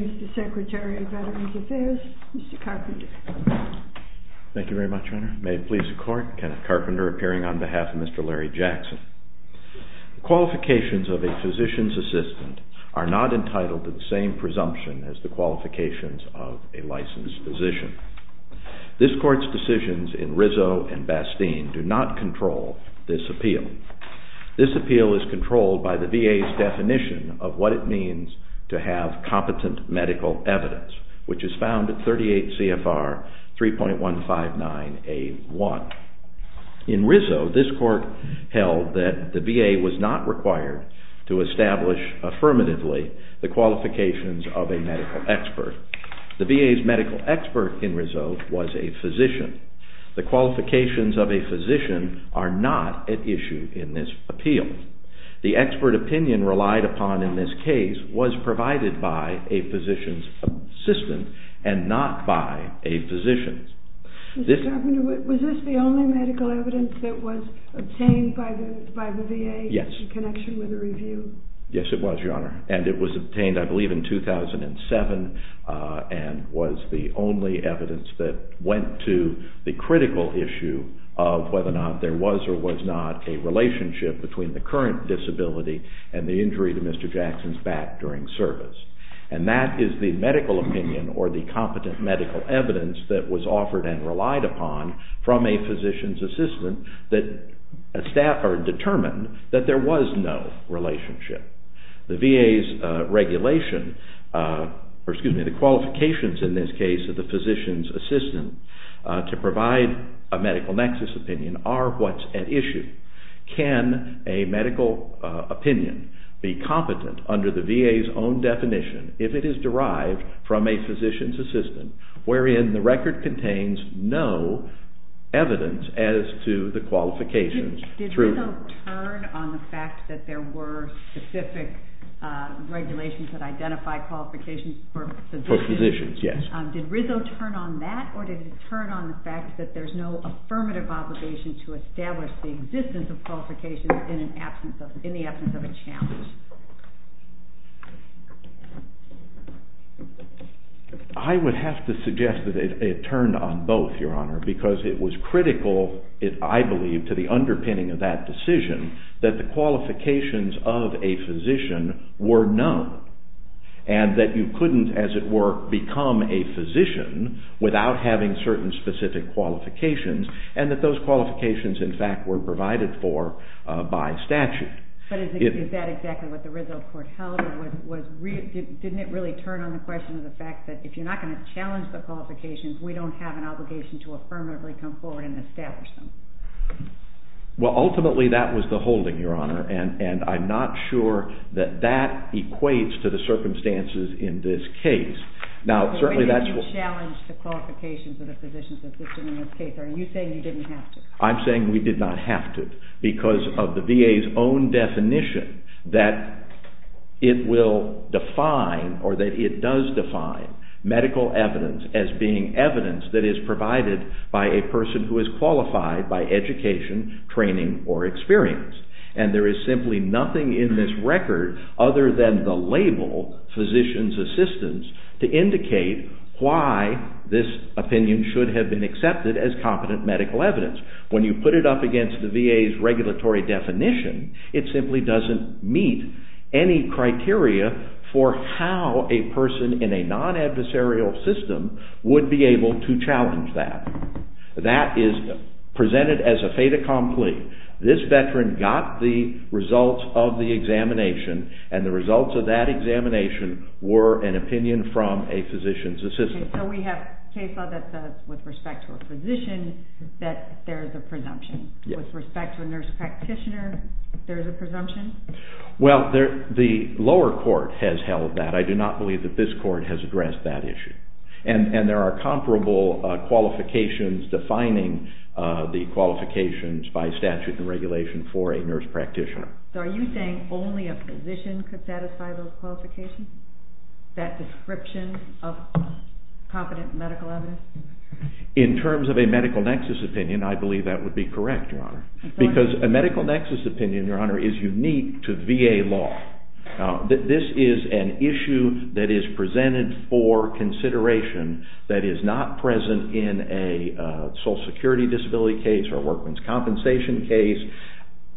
Mr. Secretary of Veterans Affairs, Mr. Carpenter. Thank you very much, Honor. May it please the Court, Kenneth Carpenter appearing on behalf of Mr. Larry Jackson. The qualifications of a physician's assistant are not entitled to the same presumption as the qualifications of a licensed physician. This Court's decisions in Rizzo and Bastine do not control this appeal. This appeal is controlled by the VA's definition of what it means to have competent medical evidence, which is found at 38 CFR 3.159A1. In Rizzo, this Court held that the VA was not required to establish affirmatively the qualifications of a medical expert. The VA's medical expert in Rizzo was a physician. The qualifications of a physician are not at issue in this appeal. The expert opinion relied upon in this case was provided by a physician's assistant and not by a physician. Mr. Carpenter, was this the only medical evidence that was obtained by the VA in connection with the review? Yes, it was, Your Honor, and it was obtained, I believe, in 2007 and was the only evidence that went to the critical issue of whether or not there was or was not a relationship between the current disability and the injury to Mr. Jackson's back during service. And that is the medical opinion or the competent medical evidence that was offered and relied upon from a physician's assistant that staff are determined that there was no relationship. The VA's regulation, or excuse me, the qualifications in this case of the physician's assistant to provide a medical nexus opinion are what's at issue. Can a medical opinion be competent under the VA's own definition if it is derived from a physician's assistant wherein the record contains no evidence as to the qualifications? Did Rizzo turn on the fact that there were specific regulations that identified qualifications for physicians? Yes. Did Rizzo turn on that or did he turn on the fact that there's no affirmative obligation to establish the existence of qualifications in the absence of a challenge? I would have to suggest that it turned on both, Your Honor, because it was critical, I believe, to the underpinning of that decision that the qualifications of a physician were known and that you couldn't, as it were, become a physician without having certain specific qualifications and that those qualifications, in fact, were provided for by statute. But is that exactly what the Rizzo court held? Didn't it really turn on the question of the fact that if you're not going to challenge the qualifications, we don't have an obligation to affirmatively come forward and establish them? Well, ultimately, that was the holding, Your Honor, and I'm not sure that that equates to the circumstances in this case. Ultimately, you challenged the qualifications of the physician's assistant in this case. Are you saying you didn't have to? I'm saying we did not have to because of the VA's own definition that it will define or that it does define medical evidence as being evidence that is provided by a person who is qualified by education, training, or experience. And there is simply nothing in this record other than the label physician's assistants to indicate why this opinion should have been accepted as competent medical evidence. When you put it up against the VA's regulatory definition, it simply doesn't meet any criteria for how a person in a non-adversarial system would be able to challenge that. That is presented as a fait accompli. This veteran got the results of the examination, and the results of that examination were an opinion from a physician's assistant. Okay, so we have a case law that says with respect to a physician that there is a presumption. With respect to a nurse practitioner, there is a presumption? Well, the lower court has held that. I do not believe that this court has addressed that issue. And there are comparable qualifications defining the qualifications by statute and regulation for a nurse practitioner. So are you saying only a physician could satisfy those qualifications? That description of competent medical evidence? In terms of a medical nexus opinion, I believe that would be correct, Your Honor. Because a medical nexus opinion, Your Honor, is unique to VA law. This is an issue that is presented for consideration that is not present in a social security disability case or a workman's compensation case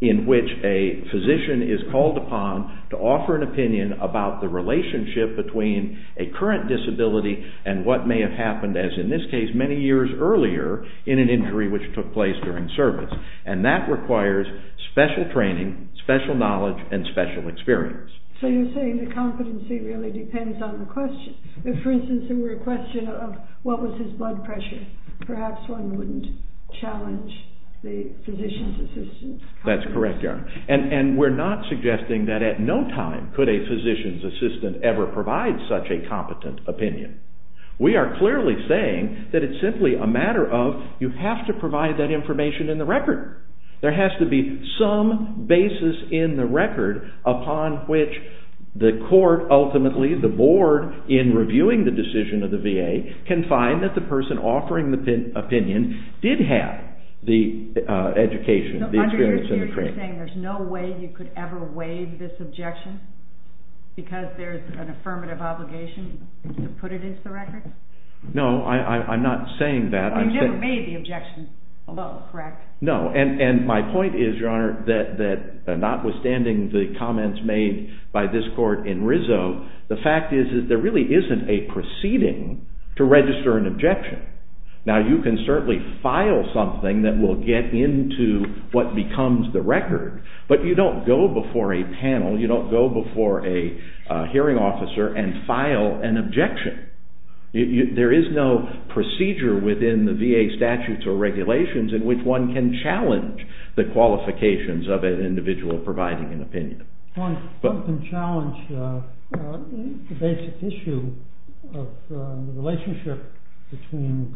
in which a physician is called upon to offer an opinion about the relationship between a current disability and what may have happened, as in this case, many years earlier in an injury which took place during service. And that requires special training, special knowledge, and special experience. So you're saying the competency really depends on the question. If, for instance, there were a question of what was his blood pressure, perhaps one wouldn't challenge the physician's assistant's competence. There has to be some basis in the record upon which the court, ultimately the board, in reviewing the decision of the VA, can find that the person offering the opinion did have the education, the experience, and the training. So you're saying there's no way you could ever waive this objection because there's an affirmative obligation to put it into the record? No, I'm not saying that. You've never made the objection below, correct? No, and my point is, Your Honor, that notwithstanding the comments made by this court in Rizzo, the fact is that there really isn't a proceeding to register an objection. Now, you can certainly file something that will get into what becomes the record, but you don't go before a panel, you don't go before a hearing officer and file an objection. There is no procedure within the VA statutes or regulations in which one can challenge the qualifications of an individual providing an opinion. One can challenge the basic issue of the relationship between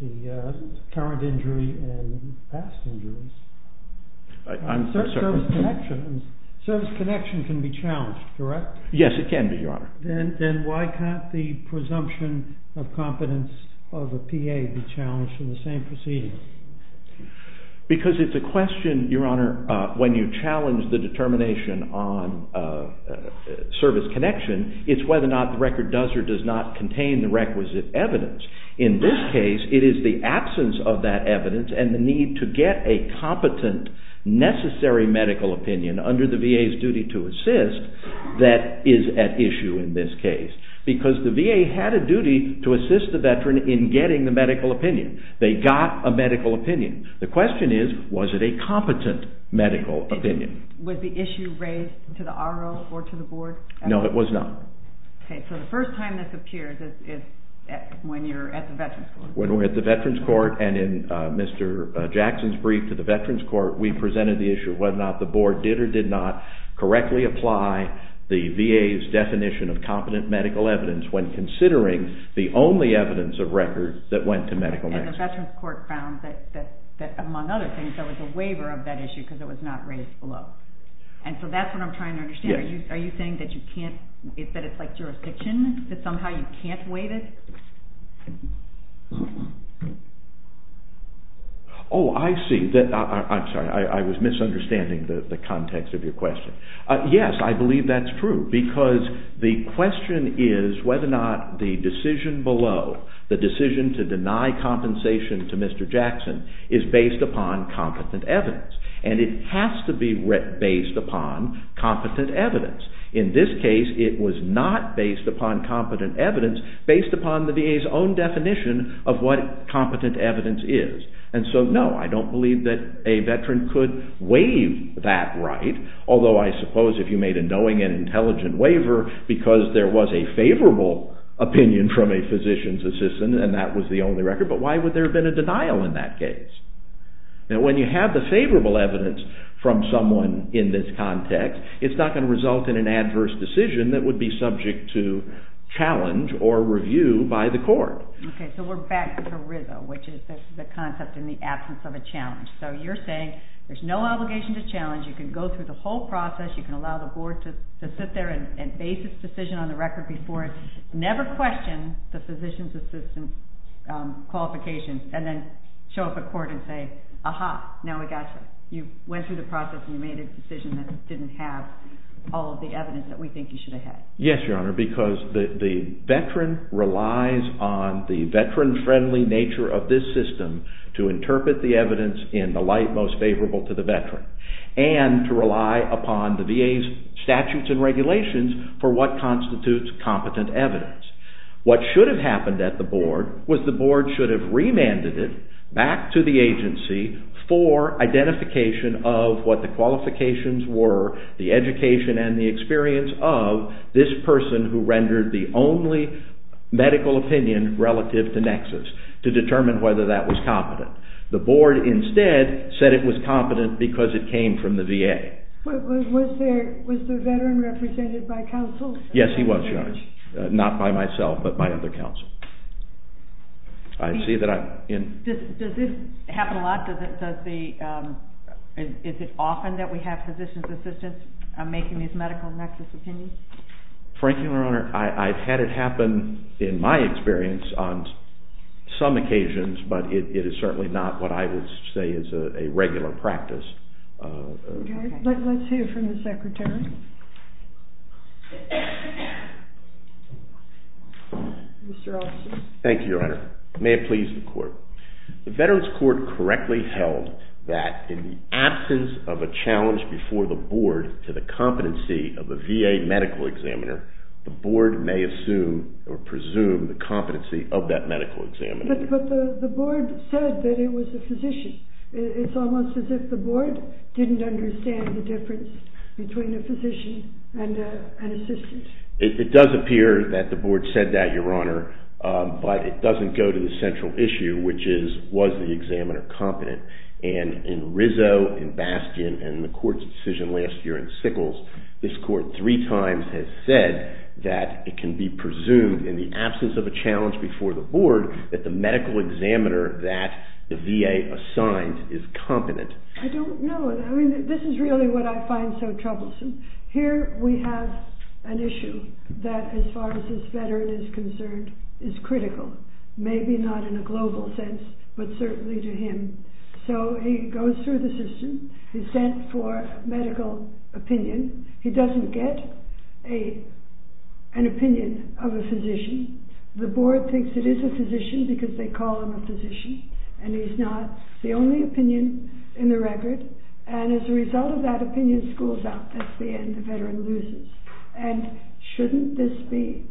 the current injury and past injuries. Service connection can be challenged, correct? Then why can't the presumption of competence of a PA be challenged in the same proceeding? Because it's a question, Your Honor, when you challenge the determination on service connection, it's whether or not the record does or does not contain the requisite evidence. In this case, it is the absence of that evidence and the need to get a competent, necessary medical opinion under the VA's duty to assist that is at issue in this case. Because the VA had a duty to assist the Veteran in getting the medical opinion. They got a medical opinion. The question is, was it a competent medical opinion? Was the issue raised to the RO or to the board? No, it was not. Okay, so the first time this appears is when you're at the Veterans Court. When we're at the Veterans Court and in Mr. Jackson's brief to the Veterans Court, we presented the issue of whether or not the board did or did not correctly apply the VA's definition of competent medical evidence when considering the only evidence of records that went to medical medicine. And the Veterans Court found that among other things, there was a waiver of that issue because it was not raised below. And so that's what I'm trying to understand. Are you saying that it's like jurisdiction? That somehow you can't waive it? Oh, I see. I'm sorry. I was misunderstanding the context of your question. Yes, I believe that's true. Because the question is whether or not the decision below, the decision to deny compensation to Mr. Jackson, is based upon competent evidence. And it has to be based upon competent evidence. In this case, it was not based upon competent evidence, based upon the VA's own definition of what competent evidence is. And so, no, I don't believe that a Veteran could waive that right. Although, I suppose if you made a knowing and intelligent waiver, because there was a favorable opinion from a physician's assistant, and that was the only record, but why would there have been a denial in that case? Now, when you have the favorable evidence from someone in this context, it's not going to result in an adverse decision that would be subject to challenge or review by the court. Okay, so we're back to ERISA, which is the concept in the absence of a challenge. So you're saying there's no obligation to challenge. You can go through the whole process. You can allow the board to sit there and base its decision on the record before it. Never question the physician's assistant's qualifications, and then show up at court and say, aha, now we got you. You went through the process, and you made a decision that didn't have all of the evidence that we think you should have had. Yes, Your Honor, because the Veteran relies on the Veteran-friendly nature of this system to interpret the evidence in the light most favorable to the Veteran, and to rely upon the VA's statutes and regulations for what constitutes competent evidence. What should have happened at the board was the board should have remanded it back to the agency for identification of what the qualifications were, the education and the experience of this person who rendered the only medical opinion relative to Nexus, to determine whether that was competent. The board instead said it was competent because it came from the VA. Was the Veteran represented by counsel? Yes, he was, Your Honor, not by myself, but by other counsel. Does this happen a lot? Is it often that we have physician's assistants making these medical Nexus opinions? Frankly, Your Honor, I've had it happen in my experience on some occasions, but it is certainly not what I would say is a regular practice. Okay, let's hear from the Secretary. Mr. Officer. Thank you, Your Honor. May it please the Court. The Veterans Court correctly held that in the absence of a challenge before the board to the competency of a VA medical examiner, the board may assume or presume the competency of that medical examiner. But the board said that it was the physician. It's almost as if the board didn't understand the difference between a physician and an assistant. It does appear that the board said that, Your Honor, but it doesn't go to the central issue, which is, was the examiner competent? And in Rizzo, in Bastian, and in the Court's decision last year in Sickles, this Court three times has said that it can be presumed in the absence of a challenge before the board that the medical examiner that the VA assigned is competent. I don't know. I mean, this is really what I find so troublesome. Here we have an issue that, as far as this veteran is concerned, is critical, maybe not in a global sense, but certainly to him. So he goes through the system. He's sent for medical opinion. He doesn't get an opinion of a physician. The board thinks it is a physician because they call him a physician, and he's not the only opinion in the record. And as a result of that opinion, school's out. That's the end. The veteran loses. And shouldn't this be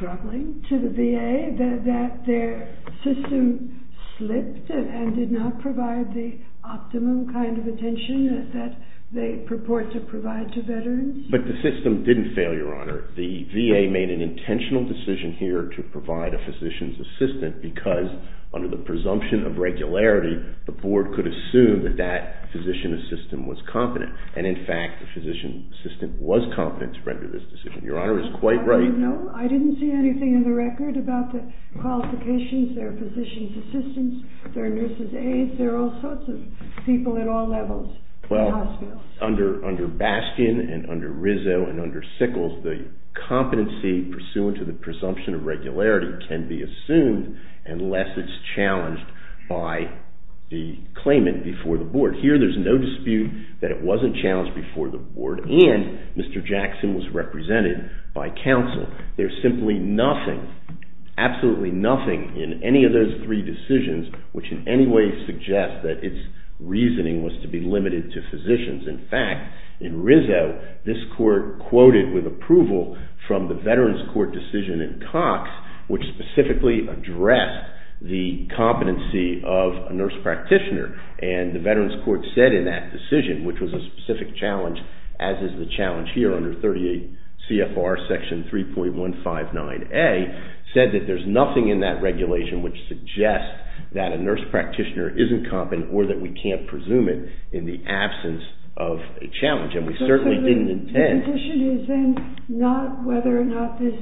troubling to the VA that their system slipped and did not provide the optimum kind of attention that they purport to provide to veterans? The VA made an intentional decision here to provide a physician's assistant because, under the presumption of regularity, the board could assume that that physician's assistant was competent. And, in fact, the physician's assistant was competent to render this decision. Your Honor is quite right. No, I didn't see anything in the record about the qualifications, their physician's assistants, their nurse's aides. There are all sorts of people at all levels in the hospital. Under Bastian and under Rizzo and under Sickles, the competency pursuant to the presumption of regularity can be assumed unless it's challenged by the claimant before the board. Here there's no dispute that it wasn't challenged before the board and Mr. Jackson was represented by counsel. There's simply nothing, absolutely nothing in any of those three decisions, which in any way suggests that its reasoning was to be limited to physicians. In fact, in Rizzo, this court quoted with approval from the Veterans Court decision in Cox, which specifically addressed the competency of a nurse practitioner. And the Veterans Court said in that decision, which was a specific challenge, as is the challenge here under 38 CFR section 3.159A, said that there's nothing in that regulation which suggests that a nurse practitioner isn't competent or that we can't presume it in the absence of a challenge. And we certainly didn't intend. So the position is then not whether or not this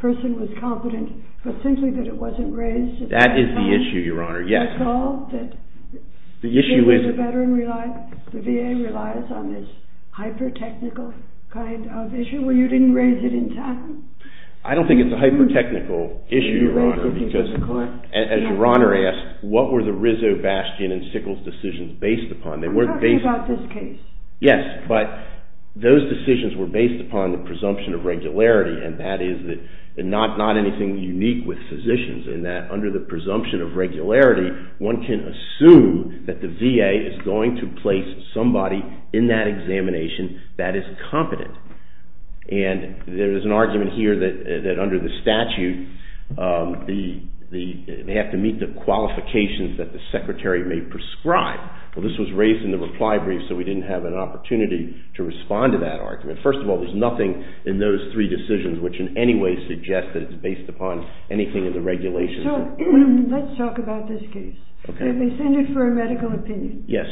person was competent, but simply that it wasn't raised. That is the issue, Your Honor, yes. Did you recall that the VA relies on this hyper-technical kind of issue where you didn't raise it in town? I don't think it's a hyper-technical issue, Your Honor, because as Your Honor asked, what were the Rizzo, Bastian, and Sickles decisions based upon? I'm talking about this case. Yes, but those decisions were based upon the presumption of regularity, and that is not anything unique with physicians in that under the presumption of regularity, one can assume that the VA is going to place somebody in that examination that is competent. And there is an argument here that under the statute, they have to meet the qualifications that the secretary may prescribe. Well, this was raised in the reply brief, so we didn't have an opportunity to respond to that argument. First of all, there's nothing in those three decisions which in any way suggests that it's based upon anything in the regulations. So let's talk about this case. Okay. They send it for a medical opinion. Yes.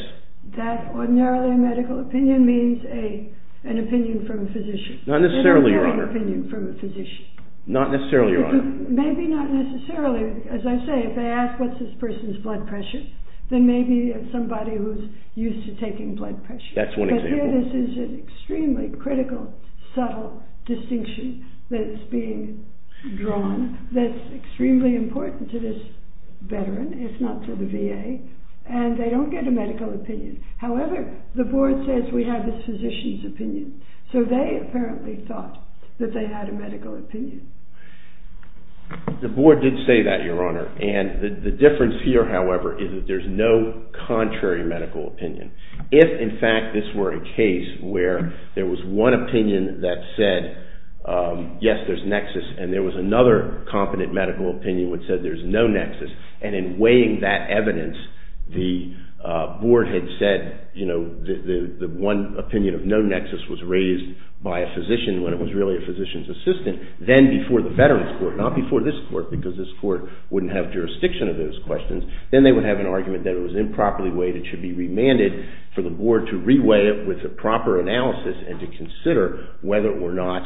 That ordinarily medical opinion means an opinion from a physician. An opinion from a physician. Not necessarily, Your Honor. Maybe not necessarily, as I say, if they ask what's this person's blood pressure, then maybe it's somebody who's used to taking blood pressure. That's one example. But here this is an extremely critical, subtle distinction that's being drawn that's extremely important to this veteran, if not to the VA, and they don't get a medical opinion. However, the board says we have this physician's opinion, so they apparently thought that they had a medical opinion. The board did say that, Your Honor, and the difference here, however, is that there's no contrary medical opinion. If, in fact, this were a case where there was one opinion that said, yes, there's nexus, and there was another competent medical opinion which said there's no nexus, and in weighing that evidence, the board had said, you know, the one opinion of no nexus was raised by a physician when it was really a physician's assistant, then before the veterans court, not before this court because this court wouldn't have jurisdiction of those questions, then they would have an argument that it was improperly weighed, it should be remanded for the board to re-weigh it with a proper analysis and to consider whether or not,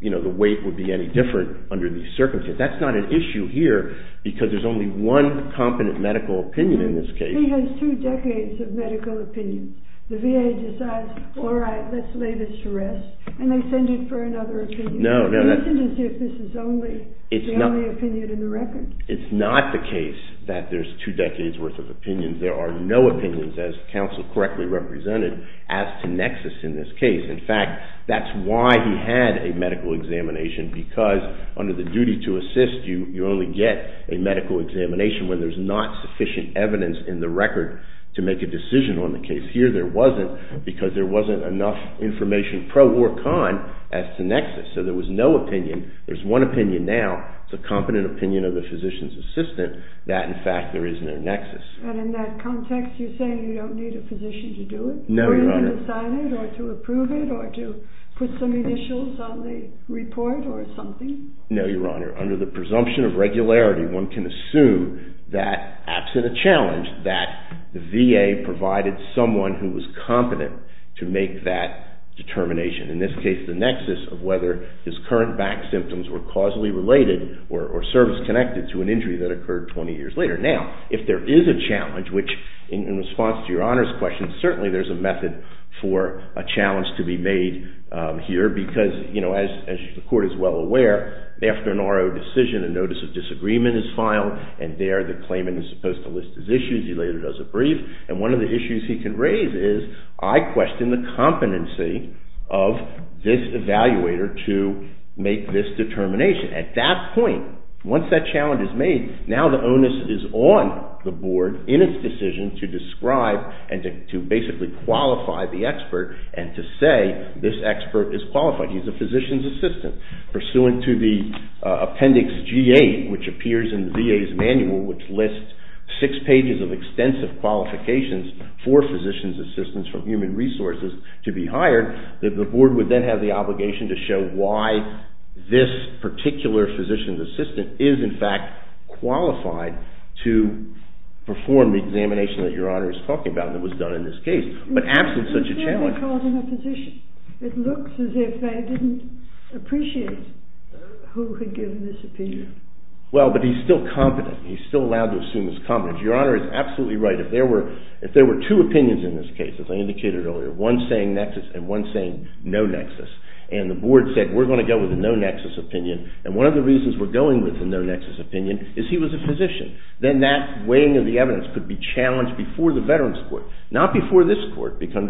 you know, the weight would be any different under these circumstances. That's not an issue here because there's only one competent medical opinion in this case. He has two decades of medical opinion. The VA decides, all right, let's lay this to rest, and they send it for another opinion. No, no. It isn't as if this is the only opinion in the record. It's not the case that there's two decades' worth of opinions. There are no opinions, as counsel correctly represented, as to nexus in this case. In fact, that's why he had a medical examination because under the duty to assist, you only get a medical examination when there's not sufficient evidence in the record to make a decision on the case. Here there wasn't because there wasn't enough information pro or con as to nexus. So there was no opinion. There's one opinion now. It's a competent opinion of the physician's assistant that, in fact, there is no nexus. And in that context, you're saying you don't need a physician to do it? No, Your Honor. To decide it or to approve it or to put some initials on the report or something? No, Your Honor. Under the presumption of regularity, one can assume that, absent a challenge, that the VA provided someone who was competent to make that determination, in this case the nexus of whether his current back symptoms were causally related or service-connected to an injury that occurred 20 years later. Now, if there is a challenge, which in response to Your Honor's question, certainly there's a method for a challenge to be made here because, you know, as the Court is well aware, after an RO decision, a notice of disagreement is filed, and there the claimant is supposed to list his issues. He later does a brief. And one of the issues he can raise is, I question the competency of this evaluator to make this determination. At that point, once that challenge is made, now the onus is on the Board in its decision to describe and to basically qualify the expert and to say this expert is qualified. He's a physician's assistant. Pursuant to the Appendix G-8, which appears in the VA's manual, which lists six pages of extensive qualifications for physician's assistants from human resources to be hired, the Board would then have the obligation to show why this particular physician's assistant is, in fact, qualified to perform the examination that Your Honor is talking about that was done in this case. But absent such a challenge... It looks as if they called him a physician. It looks as if they didn't appreciate who had given this opinion. Well, but he's still competent. He's still allowed to assume his competence. Your Honor is absolutely right. If there were two opinions in this case, as I indicated earlier, one saying nexus and one saying no nexus, and the Board said, we're going to go with a no nexus opinion, and one of the reasons we're going with the no nexus opinion is he was a physician, then that weighing of the evidence could be challenged before the Veterans Court, not before this Court, because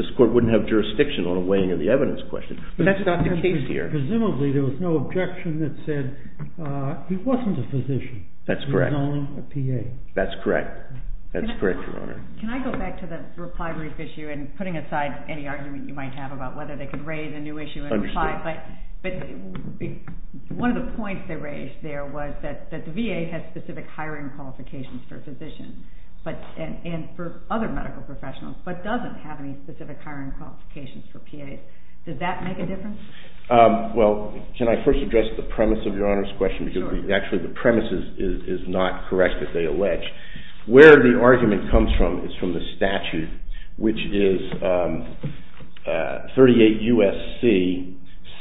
this Court wouldn't have jurisdiction on a weighing of the evidence question. But that's not the case here. Presumably there was no objection that said he wasn't a physician. That's correct. He was only a PA. That's correct. That's correct, Your Honor. Can I go back to the reply brief issue and putting aside any argument you might have about whether they could raise a new issue and reply, but one of the points they raised there was that the VA has specific hiring qualifications for physicians and for other medical professionals, but doesn't have any specific hiring qualifications for PAs. Does that make a difference? Well, can I first address the premise of Your Honor's question, because actually the premise is not correct, as they allege. Where the argument comes from is from the statute, which is 38 U.S.C.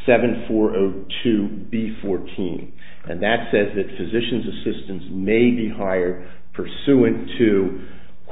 7402B14, and that says that physicians assistants may be hired pursuant to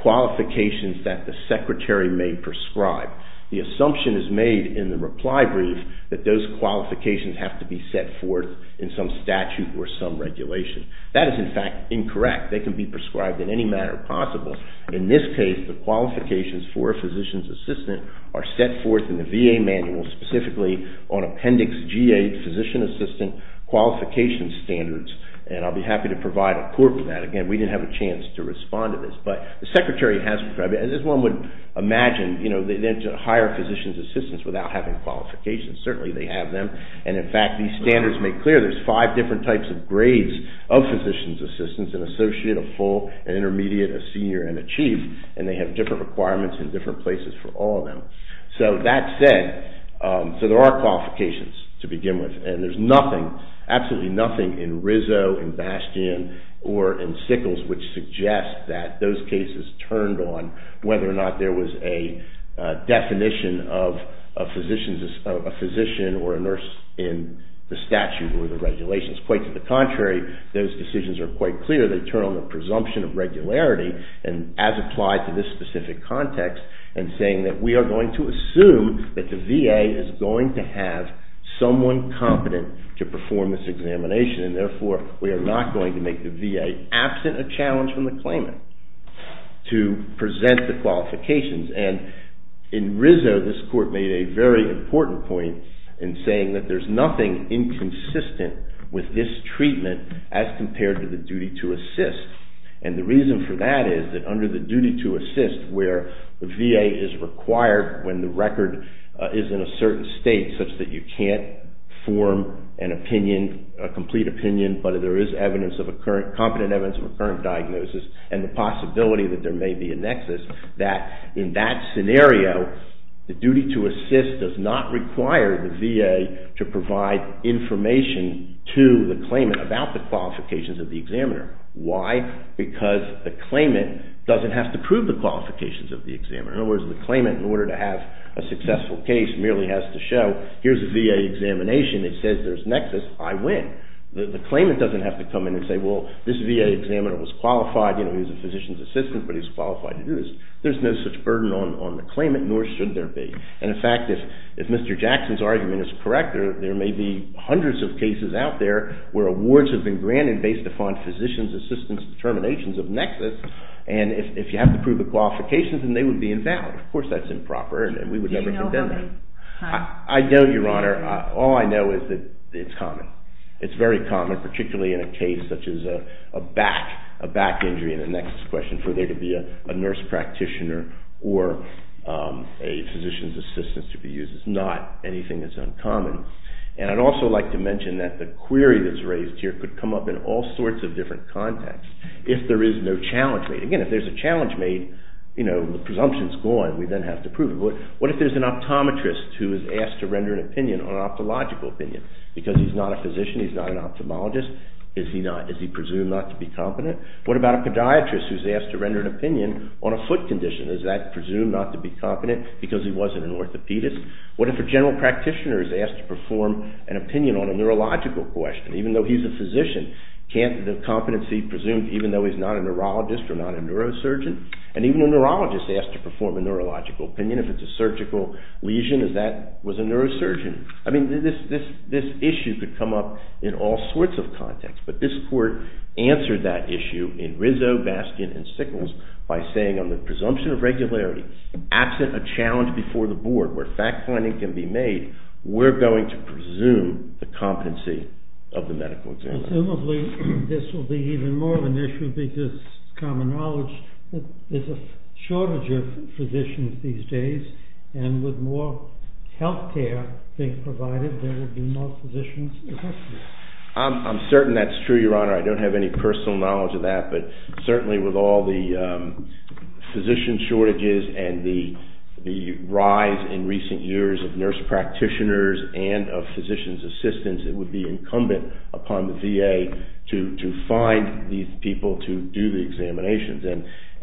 qualifications that the secretary may prescribe. The assumption is made in the reply brief that those qualifications have to be set forth in some statute or some regulation. That is, in fact, incorrect. They can be prescribed in any manner possible. In this case, the qualifications for a physician's assistant are set forth in the VA manual, specifically on Appendix G8, Physician Assistant Qualification Standards, and I'll be happy to provide a report for that. Again, we didn't have a chance to respond to this, but the secretary has prescribed it. As one would imagine, they didn't hire physician's assistants without having qualifications. Certainly, they have them, and in fact, these standards make clear there's five different types of grades of physician's assistants, an associate, a full, an intermediate, a senior, and a chief, and they have different requirements in different places for all of them. So that said, there are qualifications to begin with, and there's nothing, absolutely nothing in Rizzo, in Bastian, or in Sickles, which suggests that those cases turned on whether or not there was a definition of a physician or a nurse in the statute or the regulations. Quite to the contrary, those decisions are quite clear. They turn on the presumption of regularity, as applied to this specific context, and saying that we are going to assume that the VA is going to have someone competent to perform this examination, and therefore, we are not going to make the VA, absent a challenge from the claimant, to present the qualifications. And in Rizzo, this court made a very important point in saying that there's nothing inconsistent with this treatment as compared to the duty to assist. And the reason for that is that under the duty to assist, where the VA is required when the record is in a certain state such that you can't form an opinion, a complete opinion, but there is evidence of a current, competent evidence of a current diagnosis, and the possibility that there may be a nexus, that in that scenario, the duty to assist does not require the VA to provide information to the claimant about the qualifications of the examiner. Why? Because the claimant doesn't have to prove the qualifications of the examiner. In other words, the claimant, in order to have a successful case, merely has to show, here's a VA examination that says there's a nexus, I win. The claimant doesn't have to come in and say, well, this VA examiner was qualified, he was a physician's assistant, but he's qualified to do this. There's no such burden on the claimant, nor should there be. And in fact, if Mr. Jackson's argument is correct, there may be hundreds of cases out there where awards have been granted based upon physician's assistant's determinations of nexus, and if you have to prove the qualifications, then they would be invalid. Of course, that's improper, and we would never condemn that. I don't, Your Honor. All I know is that it's common. It's very common, particularly in a case such as a back, a back injury in a nexus question, for there to be a nurse practitioner or a physician's assistant to be used. It's not anything that's uncommon. And I'd also like to mention that the query that's raised here could come up in all sorts of different contexts. If there is no challenge made, again, if there's a challenge made, you know, the presumption's gone, we then have to prove it. What if there's an optometrist who is asked to render an opinion on an ophthalogical opinion? Because he's not a physician, he's not an ophthalmologist, is he presumed not to be competent? What about a podiatrist who's asked to render an opinion on a foot condition? Is that presumed not to be competent because he wasn't an orthopedist? What if a general practitioner is asked to perform an opinion on a neurological question? Even though he's a physician, can't the competency be presumed even though he's not a neurologist or not a neurosurgeon? And even a neurologist asked to perform a neurological opinion, if it's a surgical lesion, as that was a neurosurgeon. I mean, this issue could come up in all sorts of contexts, but this court answered that issue in Rizzo, Baskin, and Sickles by saying on the presumption of regularity, absent a challenge before the board where fact-finding can be made, we're going to presume the competency of the medical examiner. Presumably, this will be even more of an issue because common knowledge that there's a shortage of physicians these days, and with more health care being provided, there will be more physicians. I'm certain that's true, Your Honor. I don't have any personal knowledge of that, but certainly with all the physician shortages and the rise in recent years of nurse practitioners and of physician's assistants, it would be incumbent upon the VA to find these people to do the examinations.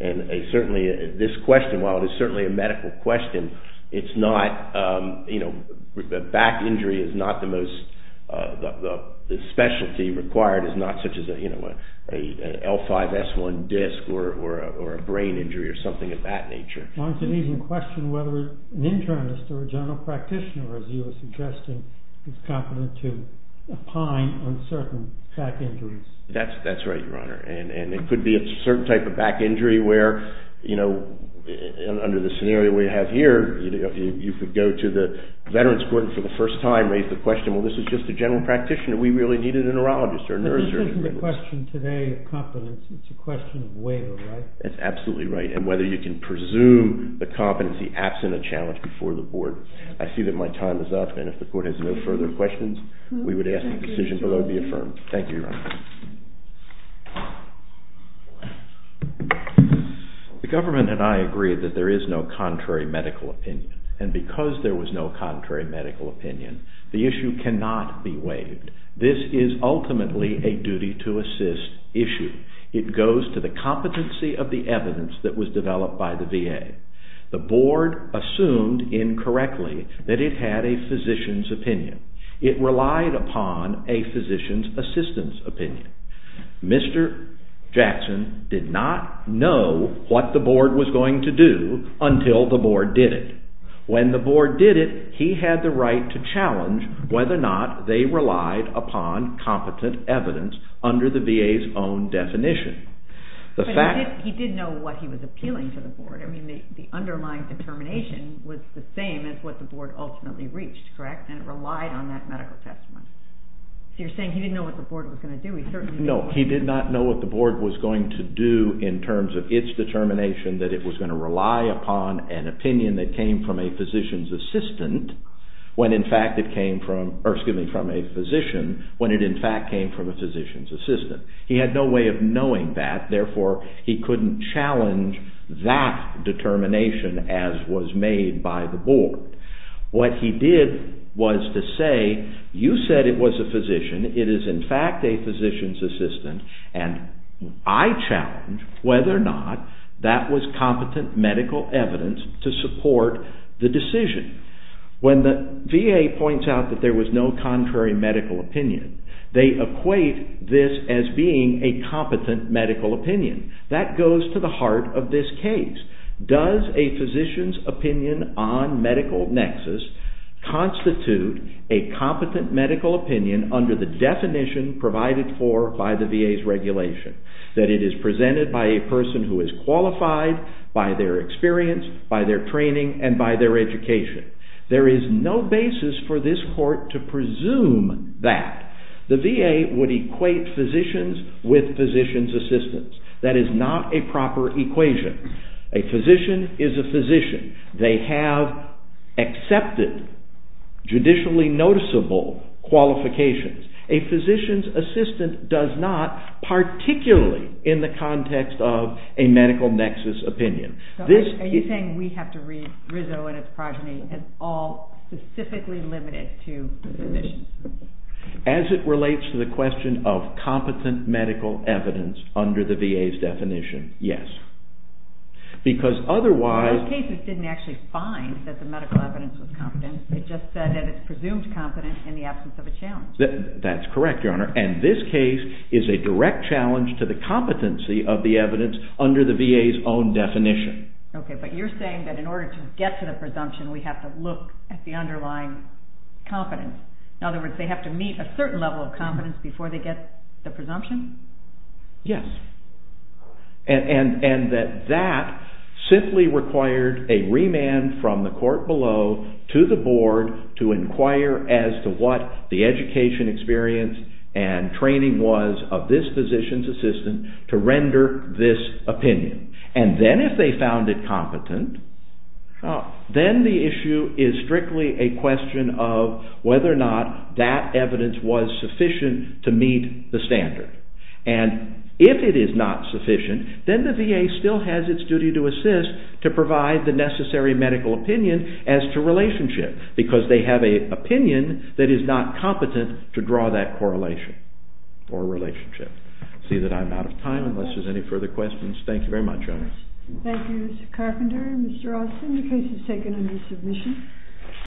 And certainly this question, while it is certainly a medical question, it's not, you know, the back injury is not the most, the specialty required is not such as, you know, an L5-S1 disc or a brain injury or something of that nature. One can even question whether an internist or a general practitioner, as you were suggesting, is competent to opine on certain back injuries. That's right, Your Honor. And it could be a certain type of back injury where, you know, under the scenario we have here, you could go to the veterans' court and for the first time raise the question, well, this is just a general practitioner. We really needed a neurologist or a nurse. But this isn't a question today of competence. It's a question of waiver, right? That's absolutely right. And whether you can presume the competency absent a challenge before the board. I see that my time is up, and if the court has no further questions, we would ask that the decision below be affirmed. Thank you, Your Honor. The government and I agree that there is no contrary medical opinion. And because there was no contrary medical opinion, the issue cannot be waived. This is ultimately a duty-to-assist issue. It goes to the competency of the evidence that was developed by the VA. The board assumed incorrectly that it had a physician's opinion. It relied upon a physician's assistance opinion. Mr. Jackson did not know what the board was going to do until the board did it. When the board did it, he had the right to challenge whether or not they relied upon competent evidence under the VA's own definition. But he did know what he was appealing to the board. I mean, the underlying determination was the same as what the board ultimately reached, correct? And it relied on that medical testimony. So you're saying he didn't know what the board was going to do. No, he did not know what the board was going to do in terms of its determination that it was going to rely upon an opinion that came from a physician's assistant when in fact it came from a physician when it in fact came from a physician's assistant. He had no way of knowing that. Therefore, he couldn't challenge that determination as was made by the board. What he did was to say, you said it was a physician. It is in fact a physician's assistant. And I challenge whether or not that was competent medical evidence to support the decision. When the VA points out that there was no contrary medical opinion, they equate this as being a competent medical opinion. That goes to the heart of this case. Does a physician's opinion on medical nexus constitute a competent medical opinion under the definition provided for by the VA's regulation? That it is presented by a person who is qualified by their experience, by their training, and by their education. There is no basis for this court to presume that. The VA would equate physicians with physician's assistants. That is not a proper equation. A physician is a physician. They have accepted judicially noticeable qualifications. A physician's assistant does not, particularly in the context of a medical nexus opinion. Are you saying we have to read Rizzo and his progeny as all specifically limited to physicians? As it relates to the question of competent medical evidence under the VA's definition, yes. Because otherwise... Those cases didn't actually find that the medical evidence was competent. It just said that it's presumed competent in the absence of a challenge. That's correct, Your Honor. And this case is a direct challenge to the competency of the evidence under the VA's own definition. Okay, but you're saying that in order to get to the presumption, we have to look at the underlying competence. In other words, they have to meet a certain level of competence before they get the presumption? Yes. And that that simply required a remand from the court below to the board to inquire as to what the education experience and training was of this physician's assistant to render this opinion. And then if they found it competent, then the issue is strictly a question of whether or not that evidence was sufficient to meet the standard. And if it is not sufficient, then the VA still has its duty to assist to provide the necessary medical opinion as to relationship because they have an opinion that is not competent to draw that correlation or relationship. I see that I'm out of time unless there's any further questions. Thank you very much, Your Honor. Thank you, Mr. Carpenter. Mr. Austin, the case is taken under submission.